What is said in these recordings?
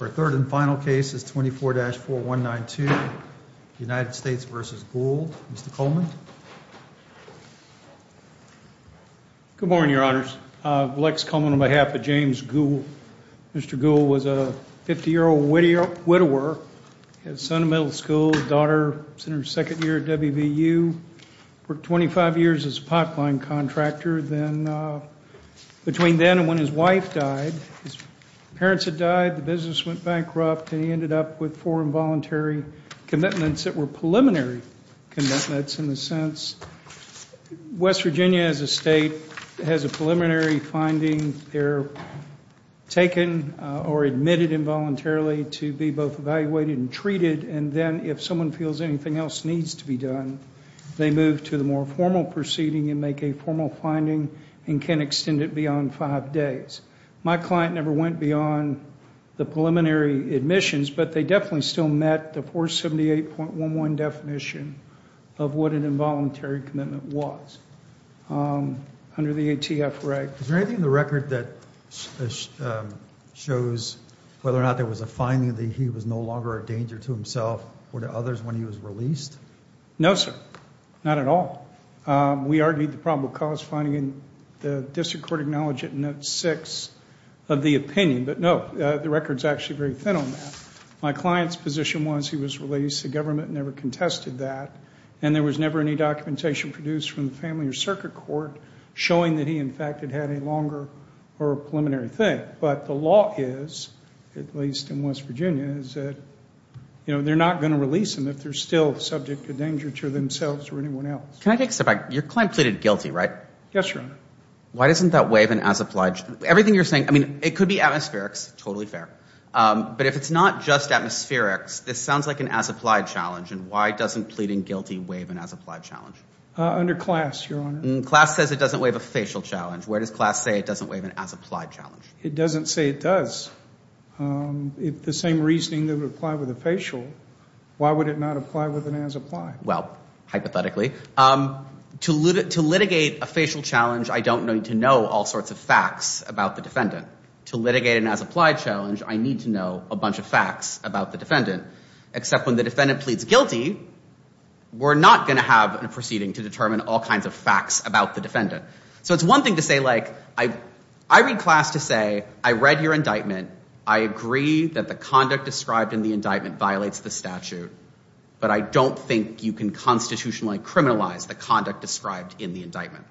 Our third and final case is 24-4192, United States v. Gould. Mr. Coleman? Good morning, Your Honors. Lex Coleman on behalf of James Gould. Mr. Gould was a 50-year-old widower. He had a son in middle school, a daughter in her second year at WVU. Worked 25 years as a pipeline contractor. Between then and when his wife died, his parents had died, the business went bankrupt, and he ended up with four involuntary commitments that were preliminary commitments in a sense. West Virginia as a state has a preliminary finding. They're taken or admitted involuntarily to be both evaluated and treated, and then if someone feels anything else needs to be done, they move to the more formal proceeding and make a formal finding and can extend it beyond five days. My client never went beyond the preliminary admissions, but they definitely still met the 478.11 definition of what an involuntary commitment was under the ATF reg. Is there anything in the record that shows whether or not there was a finding that he was no longer a danger to himself or to others when he was released? No, sir. Not at all. We argued the probable cause finding and the district court acknowledged it in note six of the opinion, but no, the record's actually very thin on that. My client's position was he was released. The government never contested that, and there was never any documentation produced from the family or circuit court showing that he, in fact, had had a longer or a preliminary thing. But the law is, at least in West Virginia, they're not going to release him if they're still subject to danger to themselves or anyone else. Can I take a step back? Your client pleaded guilty, right? Yes, Your Honor. Why doesn't that waive an as-applied challenge? Everything you're saying, I mean, it could be atmospherics, totally fair, but if it's not just atmospherics, this sounds like an as-applied challenge, and why doesn't pleading guilty waive an as-applied challenge? Under class, Your Honor. Class says it doesn't waive a facial challenge. Where does class say it doesn't waive an as-applied challenge? It doesn't say it does. If the same reasoning would apply with a facial, why would it not apply with an as-applied? Well, hypothetically, to litigate a facial challenge, I don't need to know all sorts of facts about the defendant. To litigate an as-applied challenge, I need to know a bunch of facts about the defendant. Except when the defendant pleads guilty, we're not going to have a proceeding to determine all kinds of facts about the defendant. So it's one thing to say, like, I read class to say, I read your indictment, I agree that the conduct described in the indictment violates the statute, but I don't think you can constitutionally criminalize the conduct described in the indictment.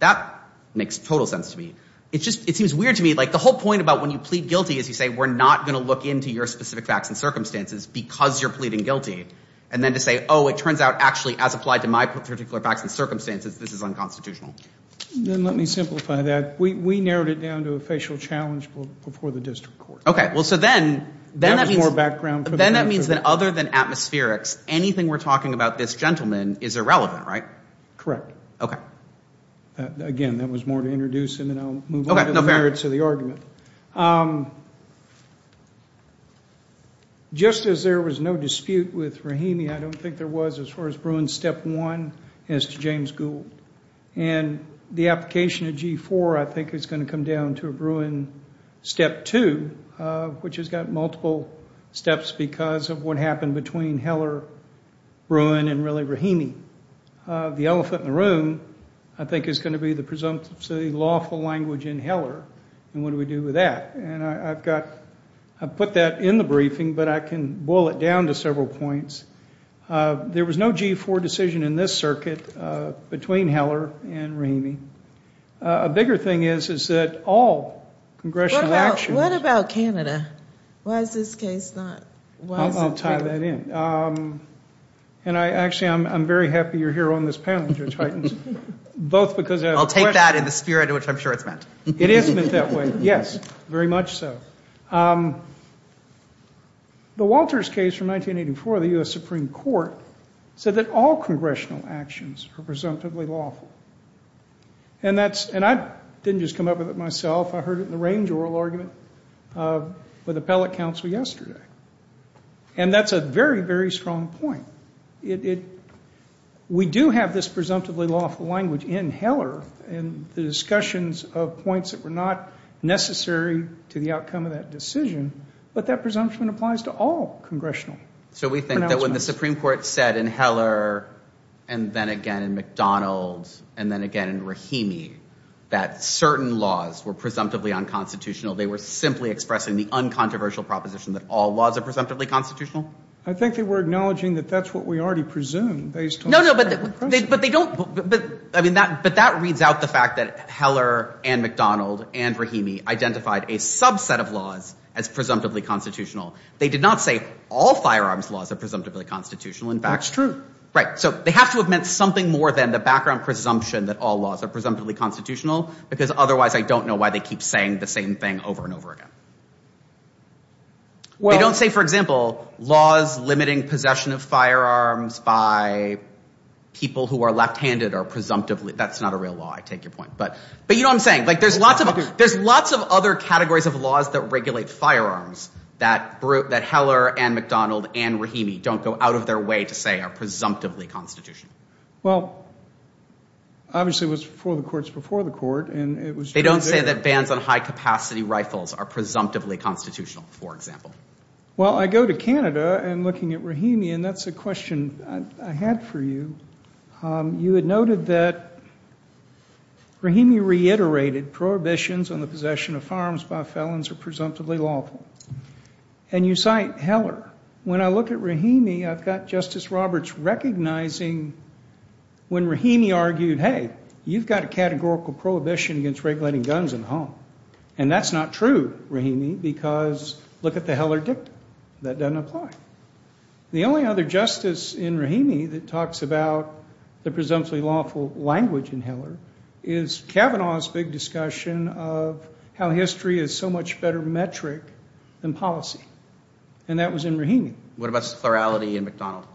That makes total sense to me. It seems weird to me, like, the whole point about when you plead guilty is you say, we're not going to look into your specific facts and circumstances because you're pleading guilty, and then to say, oh, it turns out, actually, as applied to my particular facts and circumstances, this is unconstitutional. Then let me simplify that. We narrowed it down to a facial challenge before the district court. Okay. Well, so then that means that other than atmospherics, anything we're talking about this gentleman is irrelevant, right? Correct. Okay. Again, that was more to introduce him, and I'll move on to the merits of the argument. Just as there was no dispute with Rahimi, I don't think there was as far as Bruin Step 1 as to James Gould. And the application of G4, I think, is going to come down to a Bruin Step 2, which has got multiple steps because of what happened between Heller, Bruin, and really Rahimi. The elephant in the room, I think, is going to be the presumptive, so the lawful language in Heller, and what do we do with that? I've put that in the briefing, but I can boil it down to several points. There was no G4 decision in this circuit between Heller and Rahimi. A bigger thing is that all congressional actions. What about Canada? Why is this case not? I'll tie that in. Actually, I'm very happy you're here on this panel, Judge Heitens, both because I have a question. I'll take that in the spirit in which I'm sure it's meant. It is meant that way, yes. Very much so. The Walters case from 1984, the U.S. Supreme Court, said that all congressional actions are presumptively lawful. And I didn't just come up with it myself. I heard it in the range oral argument with appellate counsel yesterday. And that's a very, very strong point. We do have this presumptively lawful language in Heller and the discussions of points that were not necessary to the outcome of that decision, but that presumption applies to all congressional pronouncements. So we think that when the Supreme Court said in Heller and then again in McDonald's and then again in Rahimi that certain laws were presumptively unconstitutional, they were simply expressing the uncontroversial proposition that all laws are presumptively constitutional? I think they were acknowledging that that's what we already presume based on the current process. No, no, but they don't. I mean, but that reads out the fact that Heller and McDonald and Rahimi identified a subset of laws as presumptively constitutional. They did not say all firearms laws are presumptively constitutional. That's true. Right. So they have to have meant something more than the background presumption that all laws are presumptively constitutional because otherwise I don't know why they keep saying the same thing over and over again. They don't say, for example, laws limiting possession of firearms by people who are left-handed are presumptively. That's not a real law. I take your point. But you know what I'm saying. There's lots of other categories of laws that regulate firearms that Heller and McDonald and Rahimi don't go out of their way to say are presumptively constitutional. Well, obviously it was before the courts before the court. They don't say that bans on high-capacity rifles are presumptively constitutional, for example. Well, I go to Canada and looking at Rahimi, and that's a question I had for you. You had noted that Rahimi reiterated prohibitions on the possession of firearms by felons are presumptively lawful. And you cite Heller. When I look at Rahimi, I've got Justice Roberts recognizing when Rahimi argued, hey, you've got a categorical prohibition against regulating guns in the home. And that's not true, Rahimi, because look at the Heller dictum. That doesn't apply. The only other justice in Rahimi that talks about the presumptively lawful language in Heller is Kavanaugh's big discussion of how history is so much better metric than policy. And that was in Rahimi. What about plurality in McDonald?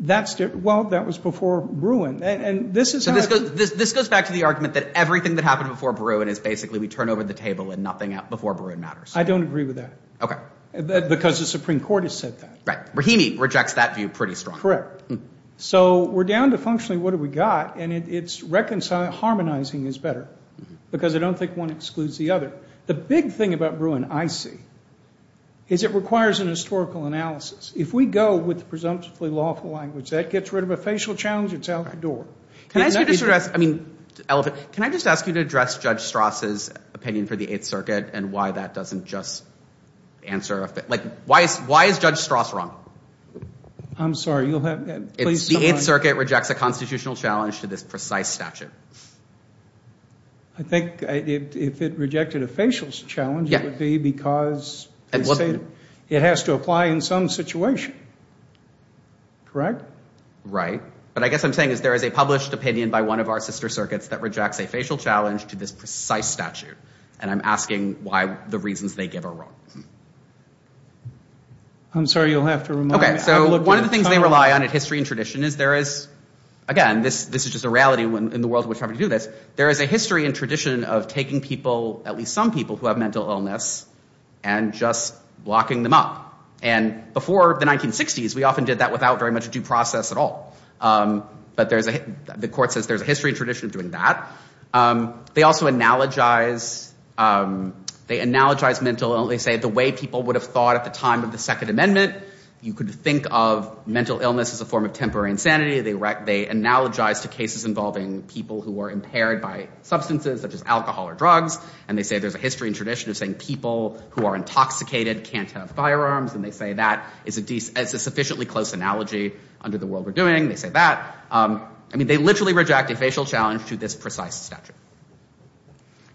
Well, that was before Bruin. So this goes back to the argument that everything that happened before Bruin is basically we turn over the table and nothing before Bruin matters. I don't agree with that. Okay. Because the Supreme Court has said that. Right. Rahimi rejects that view pretty strongly. Correct. So we're down to functionally what have we got, and it's harmonizing is better because I don't think one excludes the other. The big thing about Bruin, I see, is it requires a historical analysis. If we go with the presumptively lawful language, that gets rid of a facial challenge that's out the door. Can I just ask you to address Judge Strass' opinion for the Eighth Circuit and why that doesn't just answer? Why is Judge Strass wrong? I'm sorry. The Eighth Circuit rejects a constitutional challenge to this precise statute. I think if it rejected a facial challenge, it would be because it has to apply in some situation. Correct? But I guess what I'm saying is there is a published opinion by one of our sister circuits that rejects a facial challenge to this precise statute, and I'm asking why the reasons they give are wrong. I'm sorry, you'll have to remind me. Okay. So one of the things they rely on in history and tradition is there is, again, this is just a reality in the world in which we're having to do this, there is a history and tradition of taking people, at least some people, who have mental illness and just locking them up. And before the 1960s, we often did that without very much due process at all. But the court says there's a history and tradition of doing that. They also analogize mental illness. They say the way people would have thought at the time of the Second Amendment, you could think of mental illness as a form of temporary insanity. They analogize to cases involving people who are impaired by substances, such as alcohol or drugs, and they say there's a history and tradition of saying people who are intoxicated can't have firearms, and they say that is a sufficiently close analogy under the world we're doing. They say that. I mean, they literally reject a facial challenge to this precise statute.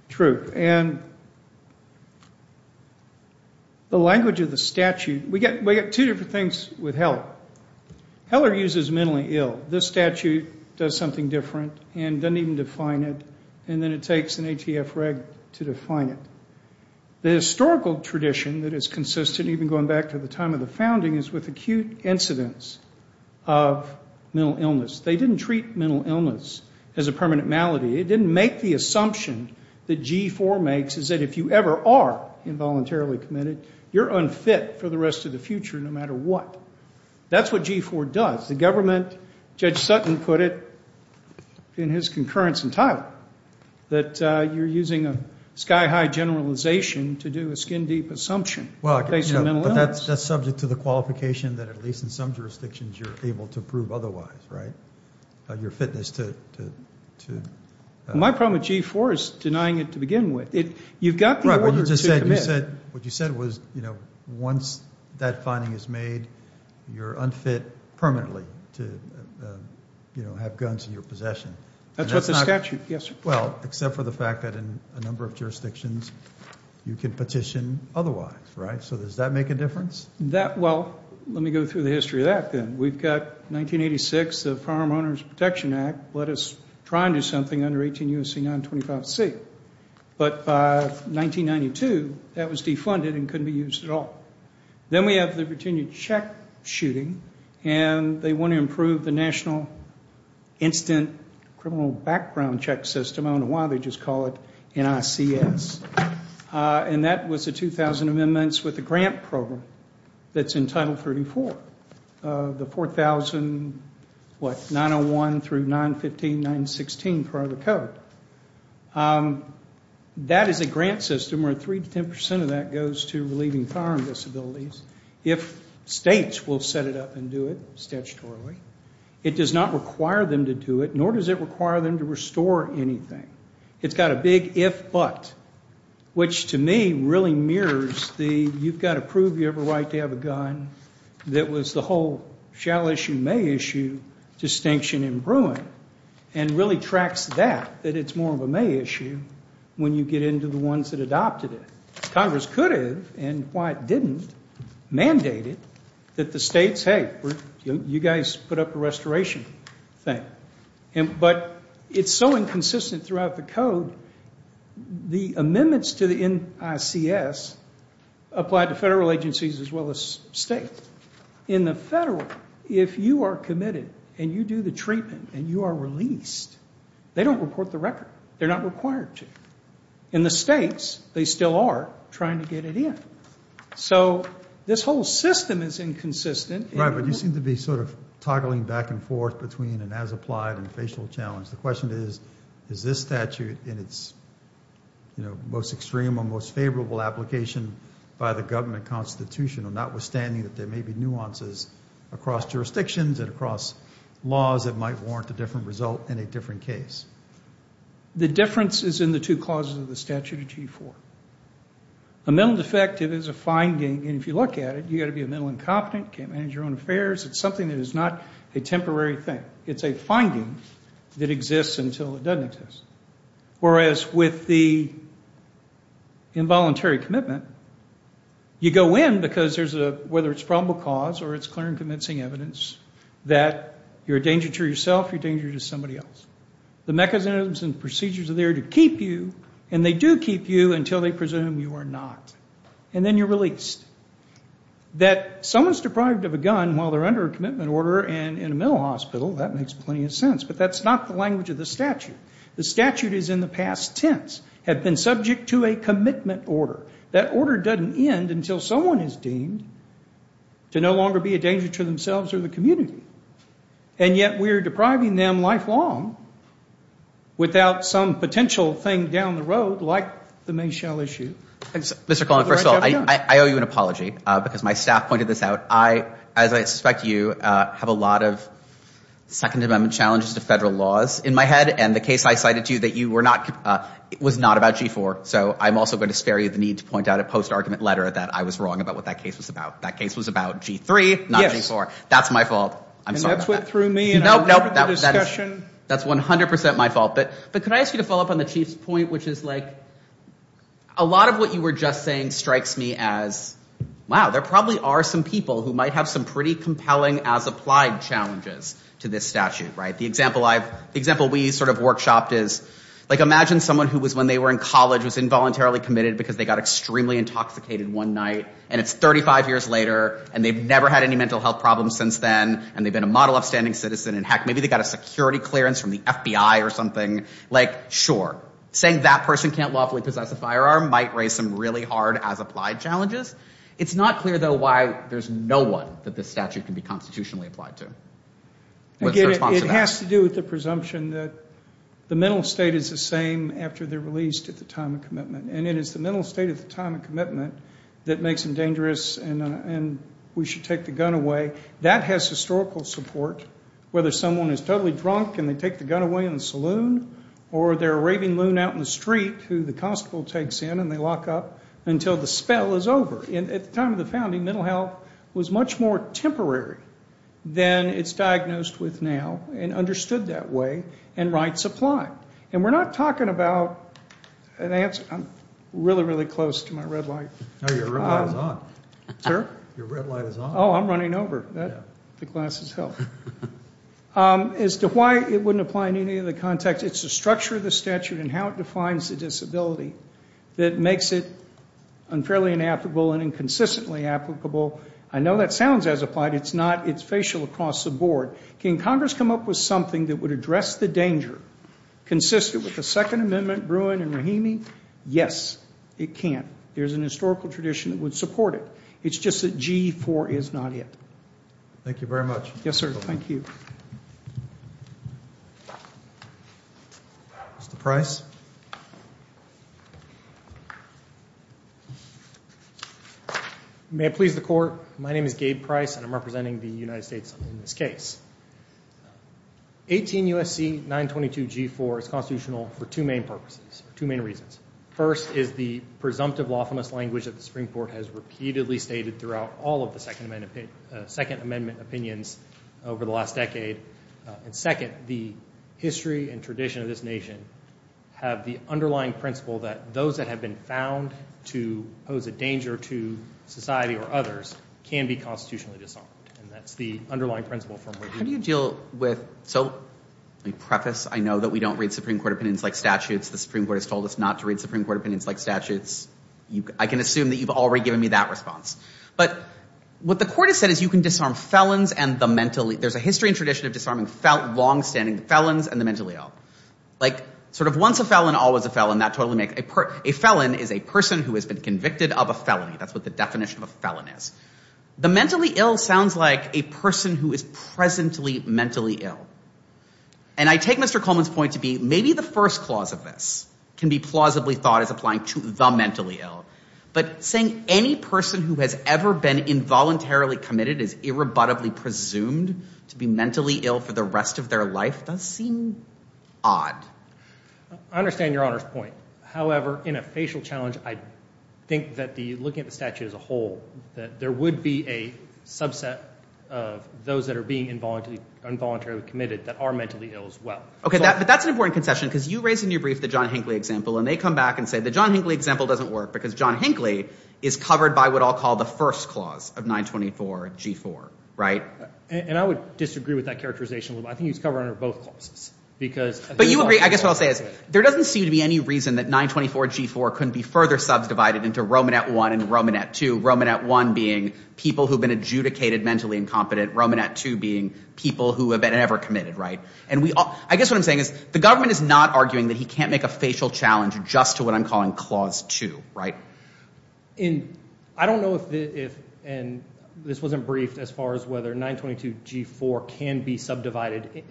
True. And the language of the statute, we get two different things with Heller. Heller uses mentally ill. This statute does something different and doesn't even define it, and then it takes an ATF reg to define it. The historical tradition that is consistent, even going back to the time of the founding, is with acute incidents of mental illness. They didn't treat mental illness as a permanent malady. It didn't make the assumption that G-4 makes, is that if you ever are involuntarily committed, you're unfit for the rest of the future no matter what. That's what G-4 does. The government, Judge Sutton put it in his concurrence in Tyler, that you're using a sky-high generalization to do a skin-deep assumption based on mental illness. But that's subject to the qualification that at least in some jurisdictions you're able to prove otherwise, right, your fitness to... My problem with G-4 is denying it to begin with. You've got the order to commit. What you said was once that finding is made, you're unfit permanently to have guns in your possession. That's what the statute. Yes, sir. Well, except for the fact that in a number of jurisdictions you can petition otherwise, right? So does that make a difference? Well, let me go through the history of that then. We've got 1986, the Farm Owners Protection Act, let us try and do something under 18 U.S.C. 925C. But by 1992, that was defunded and couldn't be used at all. Then we have the Virginia check shooting, and they want to improve the National Instant Criminal Background Check System. I don't know why they just call it NICS. And that was the 2,000 amendments with the grant program that's in Title 34, the 4,000, what, 901 through 915, 916 part of the code. That is a grant system where 3 to 10 percent of that goes to relieving firearm disabilities. If states will set it up and do it statutorily, it does not require them to do it, nor does it require them to restore anything. It's got a big if-but, which to me really mirrors the you've got to prove you have a right to have a gun, that was the whole shall issue, may issue distinction in brewing, and really tracks that, that it's more of a may issue, when you get into the ones that adopted it. Congress could have, and why it didn't, mandate it that the states, hey, you guys put up a restoration thing. But it's so inconsistent throughout the code, the amendments to the NICS apply to federal agencies as well as state. In the federal, if you are committed and you do the treatment and you are released, they don't report the record. They're not required to. In the states, they still are trying to get it in. So this whole system is inconsistent. Right, but you seem to be sort of toggling back and forth between an as-applied and facial challenge. The question is, is this statute in its most extreme or most favorable application by the government constitution, notwithstanding that there may be nuances across jurisdictions and across laws that might warrant a different result in a different case. The difference is in the two clauses of the statute of G4. A mental defective is a finding, and if you look at it, you've got to be a mental incompetent, can't manage your own affairs. It's something that is not a temporary thing. It's a finding that exists until it doesn't exist. Whereas with the involuntary commitment, you go in because there's a, whether it's probable cause or it's clear and convincing evidence, that you're a danger to yourself, you're a danger to somebody else. The mechanisms and procedures are there to keep you, and they do keep you until they presume you are not, and then you're released. That someone's deprived of a gun while they're under a commitment order and in a mental hospital, that makes plenty of sense. But that's not the language of the statute. The statute is in the past tense, have been subject to a commitment order. That order doesn't end until someone is deemed to no longer be a danger to themselves or the community, and yet we are depriving them lifelong without some potential thing down the road like the Mayschell issue. Mr. Collin, first of all, I owe you an apology because my staff pointed this out. I, as I suspect you, have a lot of Second Amendment challenges to federal laws in my head, and the case I cited to you that you were not, was not about G4, so I'm also going to spare you the need to point out a post-argument letter that I was wrong about what that case was about. That case was about G3, not G4. That's my fault. I'm sorry about that. And that's what threw me out of the discussion. That's 100% my fault, but could I ask you to follow up on the Chief's point, which is like a lot of what you were just saying strikes me as, wow, there probably are some people who might have some pretty compelling as-applied challenges to this statute, right? The example we sort of workshopped is like imagine someone who was, when they were in college, was involuntarily committed because they got extremely intoxicated one night, and it's 35 years later, and they've never had any mental health problems since then, and they've been a model upstanding citizen, and heck, maybe they got a security clearance from the FBI or something. Like, sure, saying that person can't lawfully possess a firearm might raise some really hard as-applied challenges. It's not clear, though, why there's no one that this statute can be constitutionally applied to. I get it. It has to do with the presumption that the mental state is the same after they're released at the time of commitment, and it is the mental state at the time of commitment that makes them dangerous and we should take the gun away. That has historical support. Whether someone is totally drunk and they take the gun away in the saloon or they're a raving loon out in the street who the constable takes in and they lock up until the spell is over. At the time of the founding, mental health was much more temporary than it's diagnosed with now and understood that way, and rights apply. And we're not talking about an answer. I'm really, really close to my red light. No, your red light is on. Sir? Your red light is on. Oh, I'm running over. The glasses help. As to why it wouldn't apply in any other context, it's the structure of the statute and how it defines the disability that makes it unfairly inapplicable and inconsistently applicable. I know that sounds as applied. It's not. It's facial across the board. Can Congress come up with something that would address the danger consistent with the Second Amendment, Bruin, and Rahimi? Yes, it can. There's an historical tradition that would support it. It's just that G4 is not it. Thank you very much. Yes, sir. Thank you. Mr. Price? May it please the Court, my name is Gabe Price and I'm representing the United States in this case. 18 U.S.C. 922 G4 is constitutional for two main purposes, two main reasons. First is the presumptive lawfulness language that the Supreme Court has repeatedly stated throughout all of the Second Amendment opinions over the last decade. And second, the history and tradition of this nation have the underlying principle that those that have been found to pose a danger to society or others can be constitutionally disarmed, and that's the underlying principle from which we deal. How do you deal with, so let me preface, I know that we don't read Supreme Court opinions like statutes. The Supreme Court has told us not to read Supreme Court opinions like statutes. I can assume that you've already given me that response. But what the Court has said is you can disarm felons and the mentally ill. There's a history and tradition of disarming long-standing felons and the mentally ill. Like sort of once a felon, always a felon, that totally makes sense. A felon is a person who has been convicted of a felony. That's what the definition of a felon is. The mentally ill sounds like a person who is presently mentally ill. And I take Mr. Coleman's point to be maybe the first clause of this can be plausibly thought as applying to the mentally ill. But saying any person who has ever been involuntarily committed is irrebuttably presumed to be mentally ill for the rest of their life does seem odd. I understand Your Honor's point. However, in a facial challenge, I think that looking at the statute as a whole, that there would be a subset of those that are being involuntarily committed that are mentally ill as well. Okay, but that's an important concession because you raised in your brief the John Hinckley example, and they come back and say the John Hinckley example doesn't work because John Hinckley is covered by what I'll call the first clause of 924G4. Right? And I would disagree with that characterization. I think he's covered under both clauses because But you agree. I guess what I'll say is there doesn't seem to be any reason that 924G4 couldn't be further subdivided into Romanet I and Romanet II, Romanet I being people who have been adjudicated mentally incompetent, Romanet II being people who have been ever committed. Right? And I guess what I'm saying is the government is not arguing that he can't make a facial challenge just to what I'm calling Clause 2. And I don't know if this wasn't briefed as far as whether 922G4 can be subdivided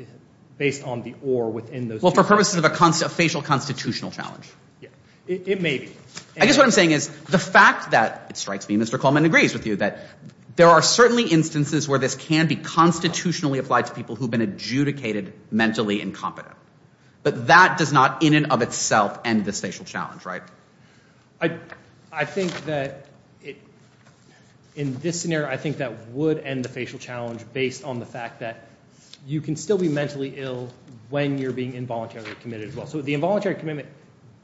based on the or within those two clauses. Well, for purposes of a facial constitutional challenge. Yeah. It may be. I guess what I'm saying is the fact that, it strikes me, Mr. Coleman agrees with you, that there are certainly instances where this can be constitutionally applied to people who have been adjudicated mentally incompetent. But that does not in and of itself end this facial challenge. I think that in this scenario, I think that would end the facial challenge based on the fact that you can still be mentally ill when you're being involuntarily committed as well. So the involuntary commitment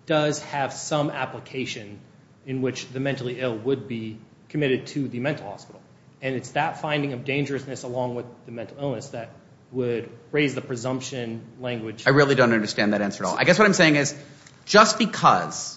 does have some application in which the mentally ill would be committed to the mental hospital. And it's that finding of dangerousness along with the mental illness that would raise the presumption language. I really don't understand that answer at all. I guess what I'm saying is just because,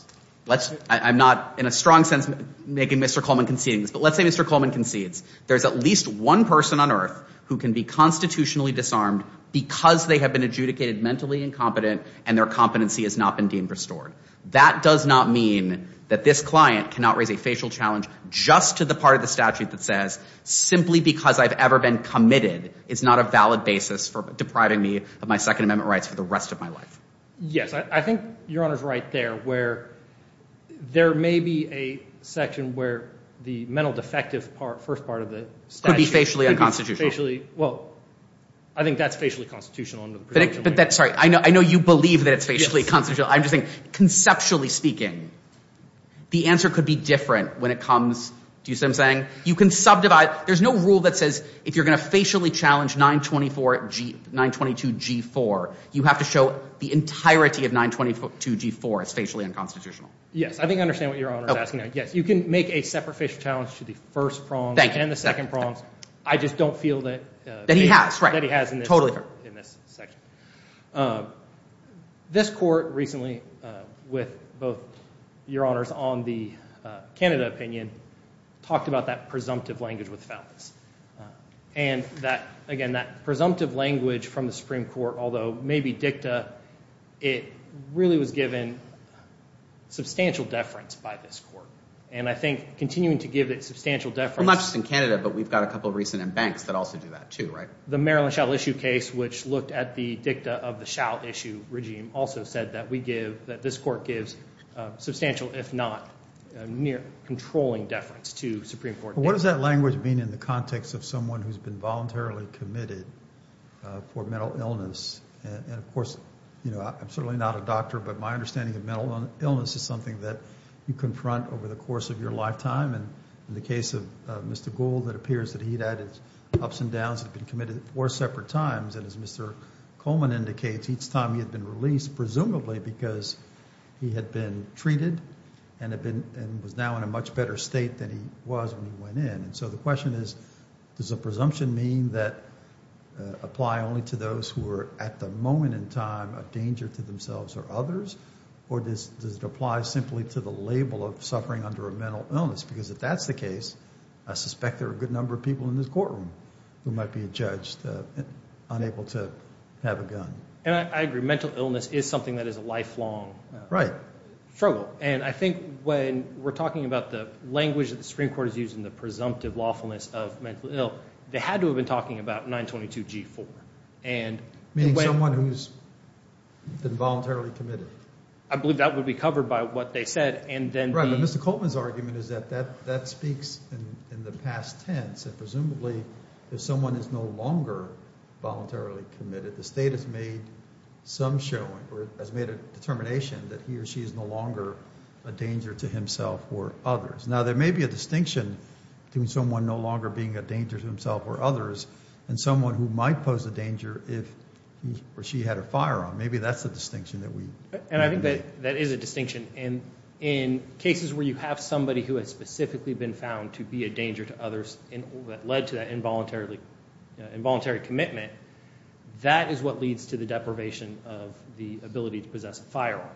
I'm not in a strong sense making Mr. Coleman conceding this, but let's say Mr. Coleman concedes there's at least one person on earth who can be constitutionally disarmed because they have been adjudicated mentally incompetent and their competency has not been deemed restored. That does not mean that this client cannot raise a facial challenge just to the part of the statute that says, simply because I've ever been committed is not a valid basis for depriving me of my Second Amendment rights for the rest of my life. Yes, I think Your Honor is right there where there may be a section where the mental defective part, first part of the statute could be facially unconstitutional. Well, I think that's facially constitutional under the presumption language. Sorry, I know you believe that it's facially constitutional. I'm just saying, conceptually speaking, the answer could be different when it comes, do you see what I'm saying? You can subdivide, there's no rule that says if you're going to facially challenge 922G4, you have to show the entirety of 922G4 as facially unconstitutional. Yes, I think I understand what Your Honor is asking. You can make a separate facial challenge to the first prongs and the second prongs. I just don't feel that he has in this section. This court recently, with both Your Honors on the Canada opinion, talked about that presumptive language with Fountas. And that, again, that presumptive language from the Supreme Court, although maybe dicta, it really was given substantial deference by this court. And I think continuing to give it substantial deference. Not just in Canada, but we've got a couple of recent embanks that also do that too, right? The Maryland shall issue case, which looked at the dicta of the shall issue regime, also said that we give, that this court gives substantial, if not near, controlling deference to Supreme Court dicta. What does that language mean in the context of someone who's been voluntarily committed for mental illness? And, of course, you know, I'm certainly not a doctor, but my understanding of mental illness is something that you confront over the course of your lifetime. And in the case of Mr. Gould, it appears that he'd had his ups and downs. He'd been committed four separate times. And as Mr. Coleman indicates, each time he had been released, presumably because he had been treated and was now in a much better state than he was when he went in. And so the question is, does a presumption mean that apply only to those who are, at the moment in time, a danger to themselves or others? Or does it apply simply to the label of suffering under a mental illness? Because if that's the case, I suspect there are a good number of people in this courtroom who might be a judge unable to have a gun. And I agree. Mental illness is something that is a lifelong struggle. And I think when we're talking about the language that the Supreme Court is using, the presumptive lawfulness of mental ill, they had to have been talking about 922G4. Meaning someone who's been voluntarily committed? I believe that would be covered by what they said. Right. But Mr. Coleman's argument is that that speaks in the past tense. Presumably, if someone is no longer voluntarily committed, the state has made some showing or has made a determination that he or she is no longer a danger to himself or others. Now, there may be a distinction between someone no longer being a danger to himself or others and someone who might pose a danger if he or she had a firearm. Maybe that's the distinction that we make. And I think that is a distinction. And in cases where you have somebody who has specifically been found to be a danger to others that led to that involuntary commitment, that is what leads to the deprivation of the ability to possess a firearm.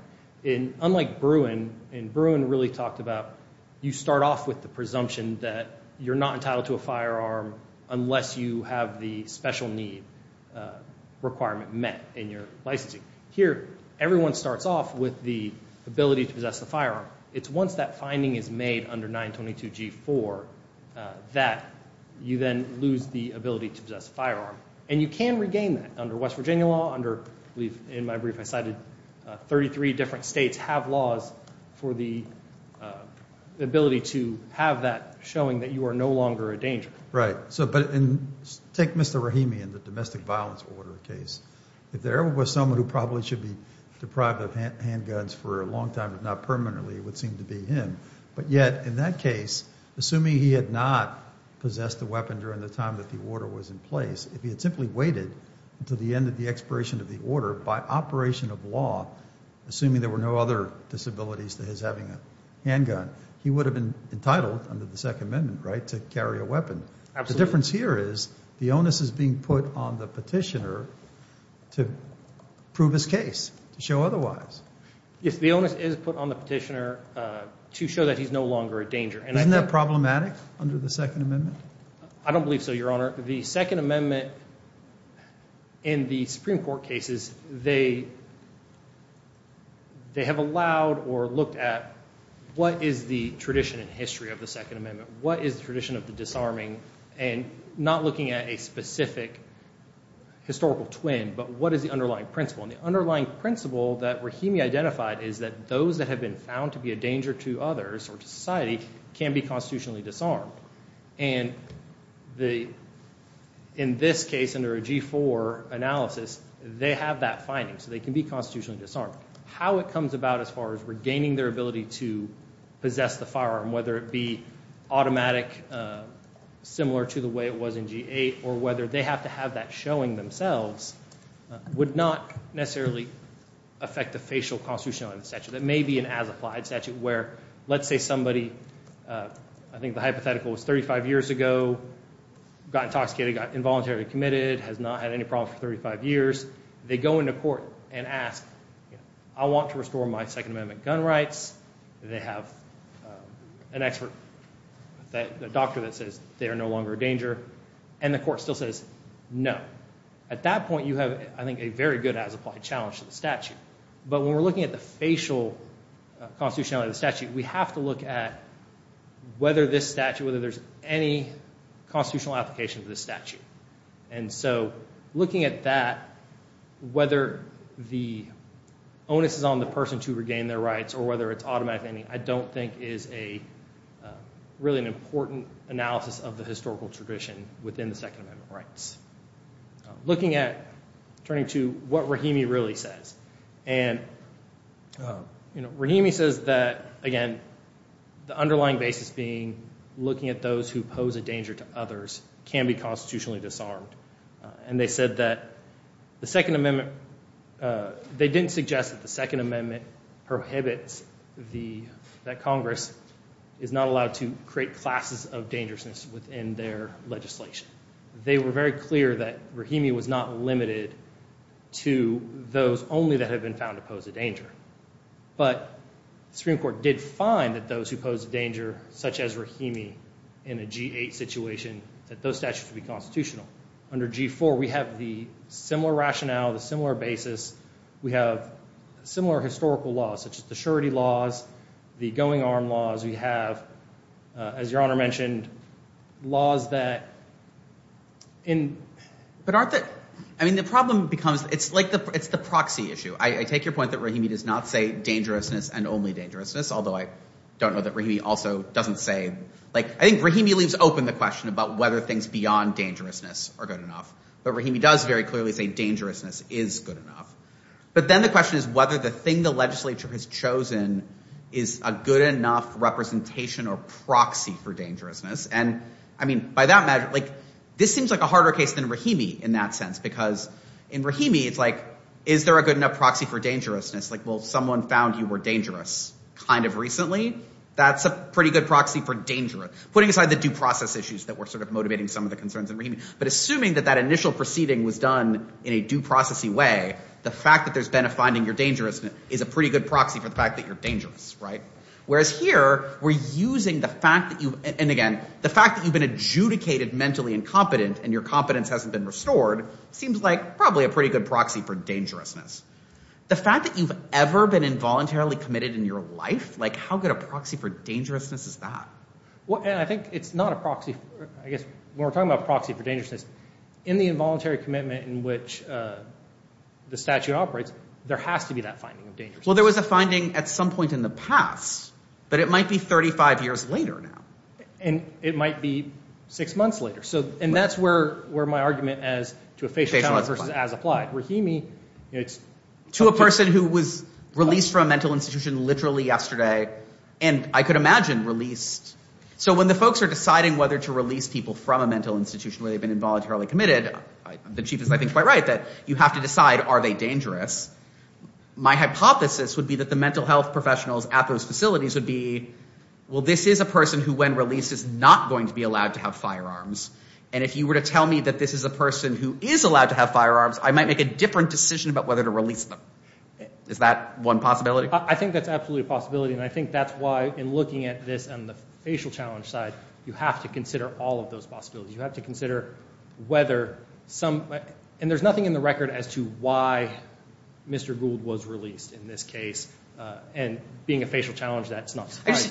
Unlike Bruin, and Bruin really talked about you start off with the presumption that you're not entitled to a firearm unless you have the special need requirement met in your licensing. Here, everyone starts off with the ability to possess a firearm. It's once that finding is made under 922G4 that you then lose the ability to possess a firearm. And you can regain that under West Virginia law, under, in my brief I cited, 33 different states have laws for the ability to have that showing that you are no longer a danger. Right. But take Mr. Rahimi in the domestic violence order case. If there ever was someone who probably should be deprived of handguns for a long time but not permanently, it would seem to be him. But yet, in that case, assuming he had not possessed a weapon during the time that the order was in place, if he had simply waited until the end of the expiration of the order by operation of law, assuming there were no other disabilities to his having a handgun, he would have been entitled under the Second Amendment, right, to carry a weapon. The difference here is the onus is being put on the petitioner to prove his case, to show otherwise. If the onus is put on the petitioner to show that he's no longer a danger. Isn't that problematic under the Second Amendment? I don't believe so, Your Honor. The Second Amendment in the Supreme Court cases, they have allowed or looked at what is the tradition and history of the Second Amendment, what is the tradition of the disarming and not looking at a specific historical twin, but what is the underlying principle. And the underlying principle that Rahimi identified is that those that have been found to be a danger to others or to society can be constitutionally disarmed. And in this case, under a G-4 analysis, they have that finding. So they can be constitutionally disarmed. How it comes about as far as regaining their ability to possess the firearm, whether it be automatic, similar to the way it was in G-8, or whether they have to have that showing themselves, would not necessarily affect the facial constitutional statute. That may be an as-applied statute where, let's say somebody, I think the hypothetical was 35 years ago, got intoxicated, got involuntarily committed, has not had any problems for 35 years. They go into court and ask, I want to restore my Second Amendment gun rights. They have an expert, a doctor that says they are no longer a danger. And the court still says no. At that point, you have, I think, a very good as-applied challenge to the statute. But when we're looking at the facial constitutionality of the statute, we have to look at whether this statute, whether there's any constitutional application to this statute. And so looking at that, whether the onus is on the person to regain their rights or whether it's automatic, I don't think is really an important analysis of the historical tradition within the Second Amendment rights. Looking at, turning to what Rahimi really says, and Rahimi says that, again, the underlying basis being looking at those who pose a danger to others can be constitutionally disarmed. And they said that the Second Amendment, they didn't suggest that the Second Amendment prohibits the, that Congress is not allowed to create classes of dangerousness within their legislation. They were very clear that Rahimi was not limited to those only that have been found to pose a danger. But the Supreme Court did find that those who pose a danger, such as Rahimi, in a G-8 situation, that those statutes would be constitutional. Under G-4, we have the similar rationale, the similar basis. We have similar historical laws, such as the surety laws, the going-arm laws. We have, as Your Honor mentioned, laws that in. But aren't the, I mean, the problem becomes, it's like the, it's the proxy issue. I take your point that Rahimi does not say dangerousness and only dangerousness, although I don't know that Rahimi also doesn't say, like, I think Rahimi leaves open the question about whether things beyond dangerousness are good enough. But Rahimi does very clearly say dangerousness is good enough. But then the question is whether the thing the legislature has chosen is a good enough representation or proxy for dangerousness. And, I mean, by that matter, like, this seems like a harder case than Rahimi in that sense. Because in Rahimi, it's like, is there a good enough proxy for dangerousness? Like, well, someone found you were dangerous kind of recently. That's a pretty good proxy for dangerous. Putting aside the due process issues that were sort of motivating some of the concerns in Rahimi. But assuming that that initial proceeding was done in a due process-y way, the fact that there's been a finding you're dangerous is a pretty good proxy for the fact that you're dangerous. Whereas here, we're using the fact that you, and again, the fact that you've been adjudicated mentally incompetent and your competence hasn't been restored seems like probably a pretty good proxy for dangerousness. The fact that you've ever been involuntarily committed in your life, like, how good a proxy for dangerousness is that? Well, and I think it's not a proxy. I guess when we're talking about proxy for dangerousness, in the involuntary commitment in which the statute operates, there has to be that finding of dangerousness. Well, there was a finding at some point in the past. But it might be 35 years later now. And it might be six months later. And that's where my argument as to a facial channel versus as applied. Rahimi, it's- To a person who was released from a mental institution literally yesterday, and I could imagine released- So when the folks are deciding whether to release people from a mental institution where they've been involuntarily committed, the chief is, I think, quite right that you have to decide, are they dangerous? My hypothesis would be that the mental health professionals at those facilities would be, well, this is a person who, when released, is not going to be allowed to have firearms. And if you were to tell me that this is a person who is allowed to have firearms, I might make a different decision about whether to release them. Is that one possibility? I think that's absolutely a possibility. And I think that's why, in looking at this on the facial challenge side, you have to consider all of those possibilities. You have to consider whether some- And there's nothing in the record as to why Mr. Gould was released in this case. And being a facial challenge, that's not-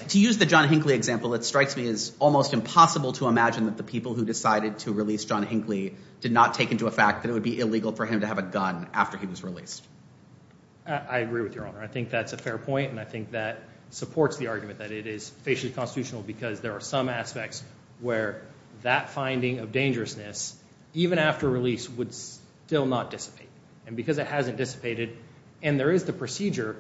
To use the John Hinckley example, it strikes me as almost impossible to imagine that the people who decided to release John Hinckley did not take into effect that it would be illegal for him to have a gun after he was released. I agree with Your Honor. I think that's a fair point, and I think that supports the argument that it is facially constitutional because there are some aspects where that finding of dangerousness, even after release, would still not dissipate. And because it hasn't dissipated, and there is the procedure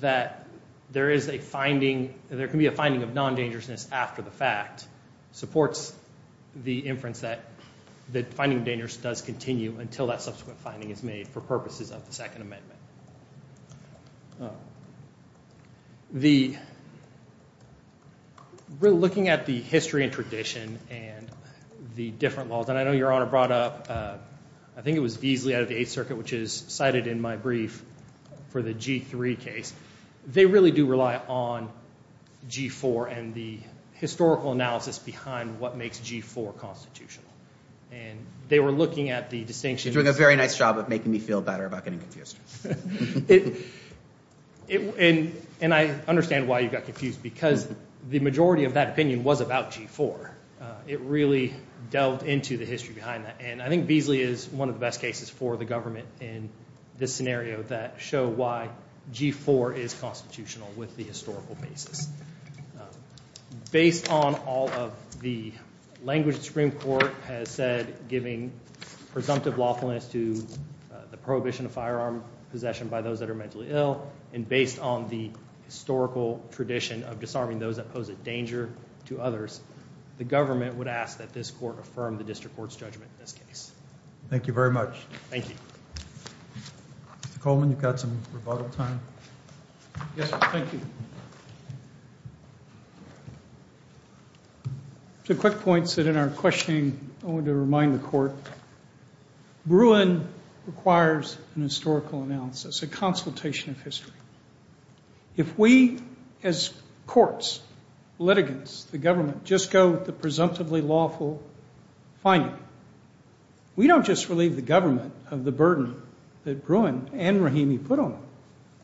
that there is a finding, there can be a finding of non-dangerousness after the fact, supports the inference that the finding of dangerousness does continue until that subsequent finding is made for purposes of the Second Amendment. Looking at the history and tradition and the different laws, and I know Your Honor brought up, I think it was Beasley out of the Eighth Circuit, which is cited in my brief for the G-3 case, they really do rely on G-4 and the historical analysis behind what makes G-4 constitutional. And they were looking at the distinction. You're doing a very nice job of making me feel better about getting confused. And I understand why you got confused because the majority of that opinion was about G-4. It really delved into the history behind that, and I think Beasley is one of the best cases for the government in this scenario that show why G-4 is constitutional with the historical basis. Based on all of the language the Supreme Court has said, giving presumptive lawfulness to the prohibition of firearm possession by those that are mentally ill, and based on the historical tradition of disarming those that pose a danger to others, the government would ask that this court affirm the district court's judgment in this case. Thank you very much. Thank you. Mr. Coleman, you've got some rebuttal time. Yes, thank you. Two quick points that in our questioning I wanted to remind the court. Bruin requires an historical analysis, a consultation of history. If we as courts, litigants, the government, just go with the presumptively lawful finding, we don't just relieve the government of the burden that Bruin and Rahimi put on them.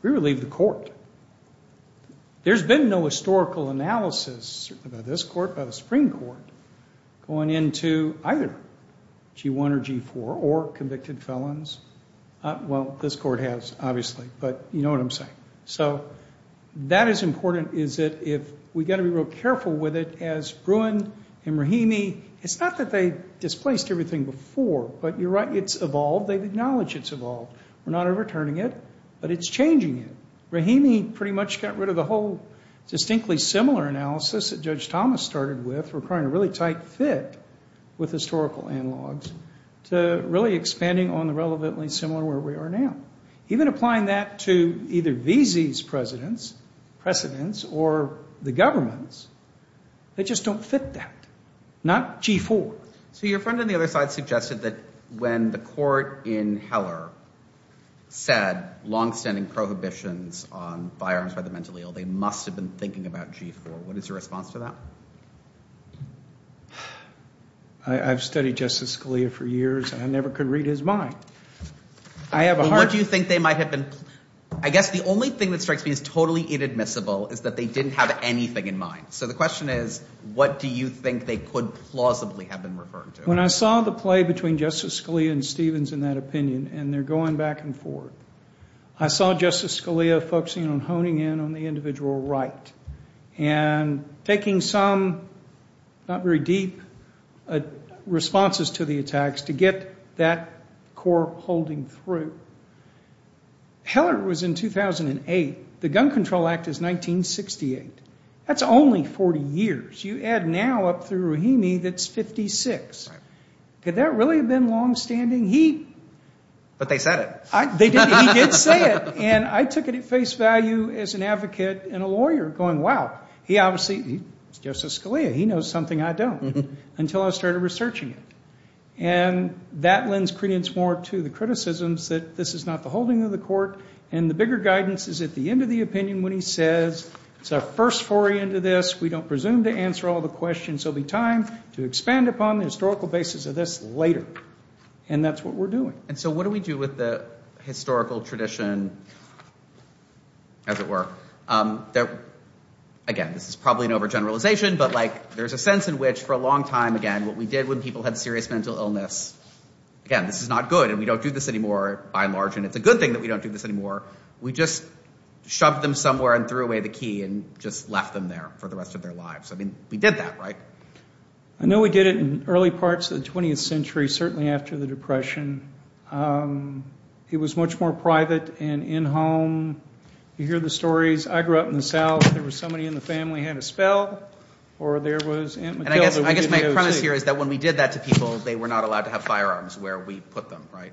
We relieve the court. There's been no historical analysis, certainly by this court, by the Supreme Court, going into either G-1 or G-4 or convicted felons. Well, this court has, obviously, but you know what I'm saying. So that is important is that if we've got to be real careful with it as Bruin and Rahimi, it's not that they displaced everything before, but you're right, it's evolved. They've acknowledged it's evolved. We're not overturning it, but it's changing it. Rahimi pretty much got rid of the whole distinctly similar analysis that Judge Thomas started with, requiring a really tight fit with historical analogs, to really expanding on the relevantly similar where we are now. Even applying that to either Veazey's precedents or the government's, they just don't fit that. Not G-4. So your friend on the other side suggested that when the court in Heller said longstanding prohibitions on firearms by the mentally ill, they must have been thinking about G-4. What is your response to that? I've studied Justice Scalia for years, and I never could read his mind. What do you think they might have been? I guess the only thing that strikes me as totally inadmissible is that they didn't have anything in mind. So the question is what do you think they could plausibly have been referring to? When I saw the play between Justice Scalia and Stevens in that opinion, and they're going back and forth, I saw Justice Scalia focusing on honing in on the individual right and taking some not very deep responses to the attacks to get that court holding through. Heller was in 2008. The Gun Control Act is 1968. That's only 40 years. You add now up through Rahimi, that's 56. Could that really have been longstanding? But they said it. He did say it. And I took it at face value as an advocate and a lawyer going, wow, he obviously, Justice Scalia, he knows something I don't, until I started researching it. And that lends credence more to the criticisms that this is not the holding of the court, and the bigger guidance is at the end of the opinion when he says it's our first foray into this. We don't presume to answer all the questions. There will be time to expand upon the historical basis of this later. And that's what we're doing. And so what do we do with the historical tradition, as it were, that, again, this is probably an overgeneralization, but, like, there's a sense in which for a long time, again, what we did when people had serious mental illness, again, this is not good, and we don't do this anymore by and large, and it's a good thing that we don't do this anymore. We just shoved them somewhere and threw away the key and just left them there for the rest of their lives. I mean, we did that, right? I know we did it in early parts of the 20th century, certainly after the Depression. It was much more private and in-home. You hear the stories. I grew up in the South. There was somebody in the family who had a spell, or there was Aunt Matilda. And I guess my premise here is that when we did that to people, they were not allowed to have firearms where we put them, right?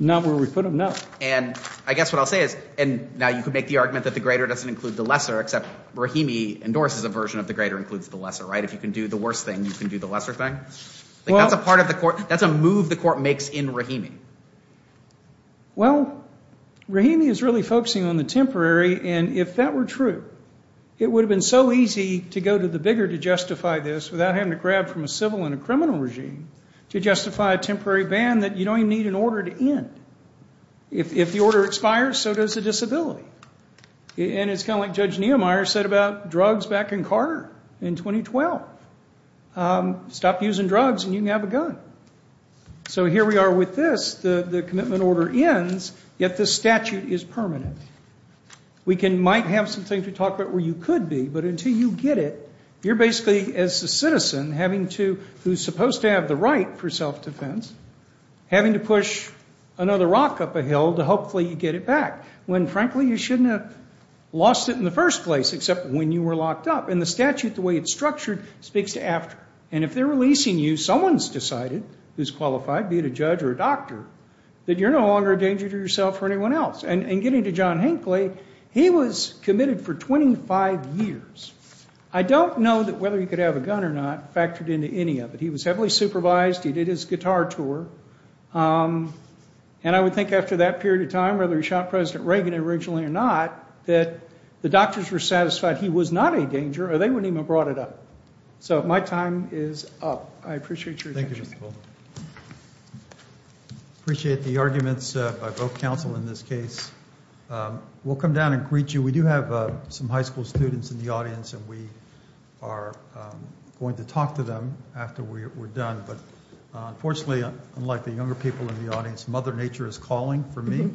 Not where we put them, no. And I guess what I'll say is, and now you could make the argument that the greater doesn't include the lesser, except Brahimi endorses a version of the greater includes the lesser, right? If you can do the worse thing, you can do the lesser thing. That's a move the court makes in Brahimi. Well, Brahimi is really focusing on the temporary, and if that were true, it would have been so easy to go to the bigger to justify this without having to grab from a civil and a criminal regime to justify a temporary ban that you don't even need an order to end. If the order expires, so does the disability. And it's kind of like Judge Neumeier said about drugs back in Carter in 2012. Stop using drugs and you can have a gun. So here we are with this. The commitment order ends, yet the statute is permanent. We might have something to talk about where you could be, but until you get it, you're basically as a citizen having to, who's supposed to have the right for self-defense, having to push another rock up a hill to hopefully get it back, when frankly you shouldn't have lost it in the first place except when you were locked up. And the statute, the way it's structured, speaks to after. And if they're releasing you, someone's decided who's qualified, be it a judge or a doctor, that you're no longer a danger to yourself or anyone else. And getting to John Hinckley, he was committed for 25 years. I don't know that whether he could have a gun or not factored into any of it. He was heavily supervised. He did his guitar tour. And I would think after that period of time, whether he shot President Reagan originally or not, that the doctors were satisfied he was not a danger or they wouldn't even have brought it up. So my time is up. I appreciate your attention. Thank you, Mr. Fuller. I appreciate the arguments by both counsel in this case. We'll come down and greet you. We do have some high school students in the audience, and we are going to talk to them after we're done. But unfortunately, unlike the younger people in the audience, Mother Nature is calling for me.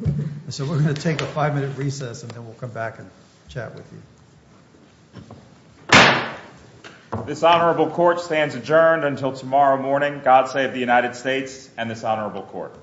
So we're going to take a five-minute recess, and then we'll come back and chat with you. This honorable court stands adjourned until tomorrow morning. God save the United States and this honorable court.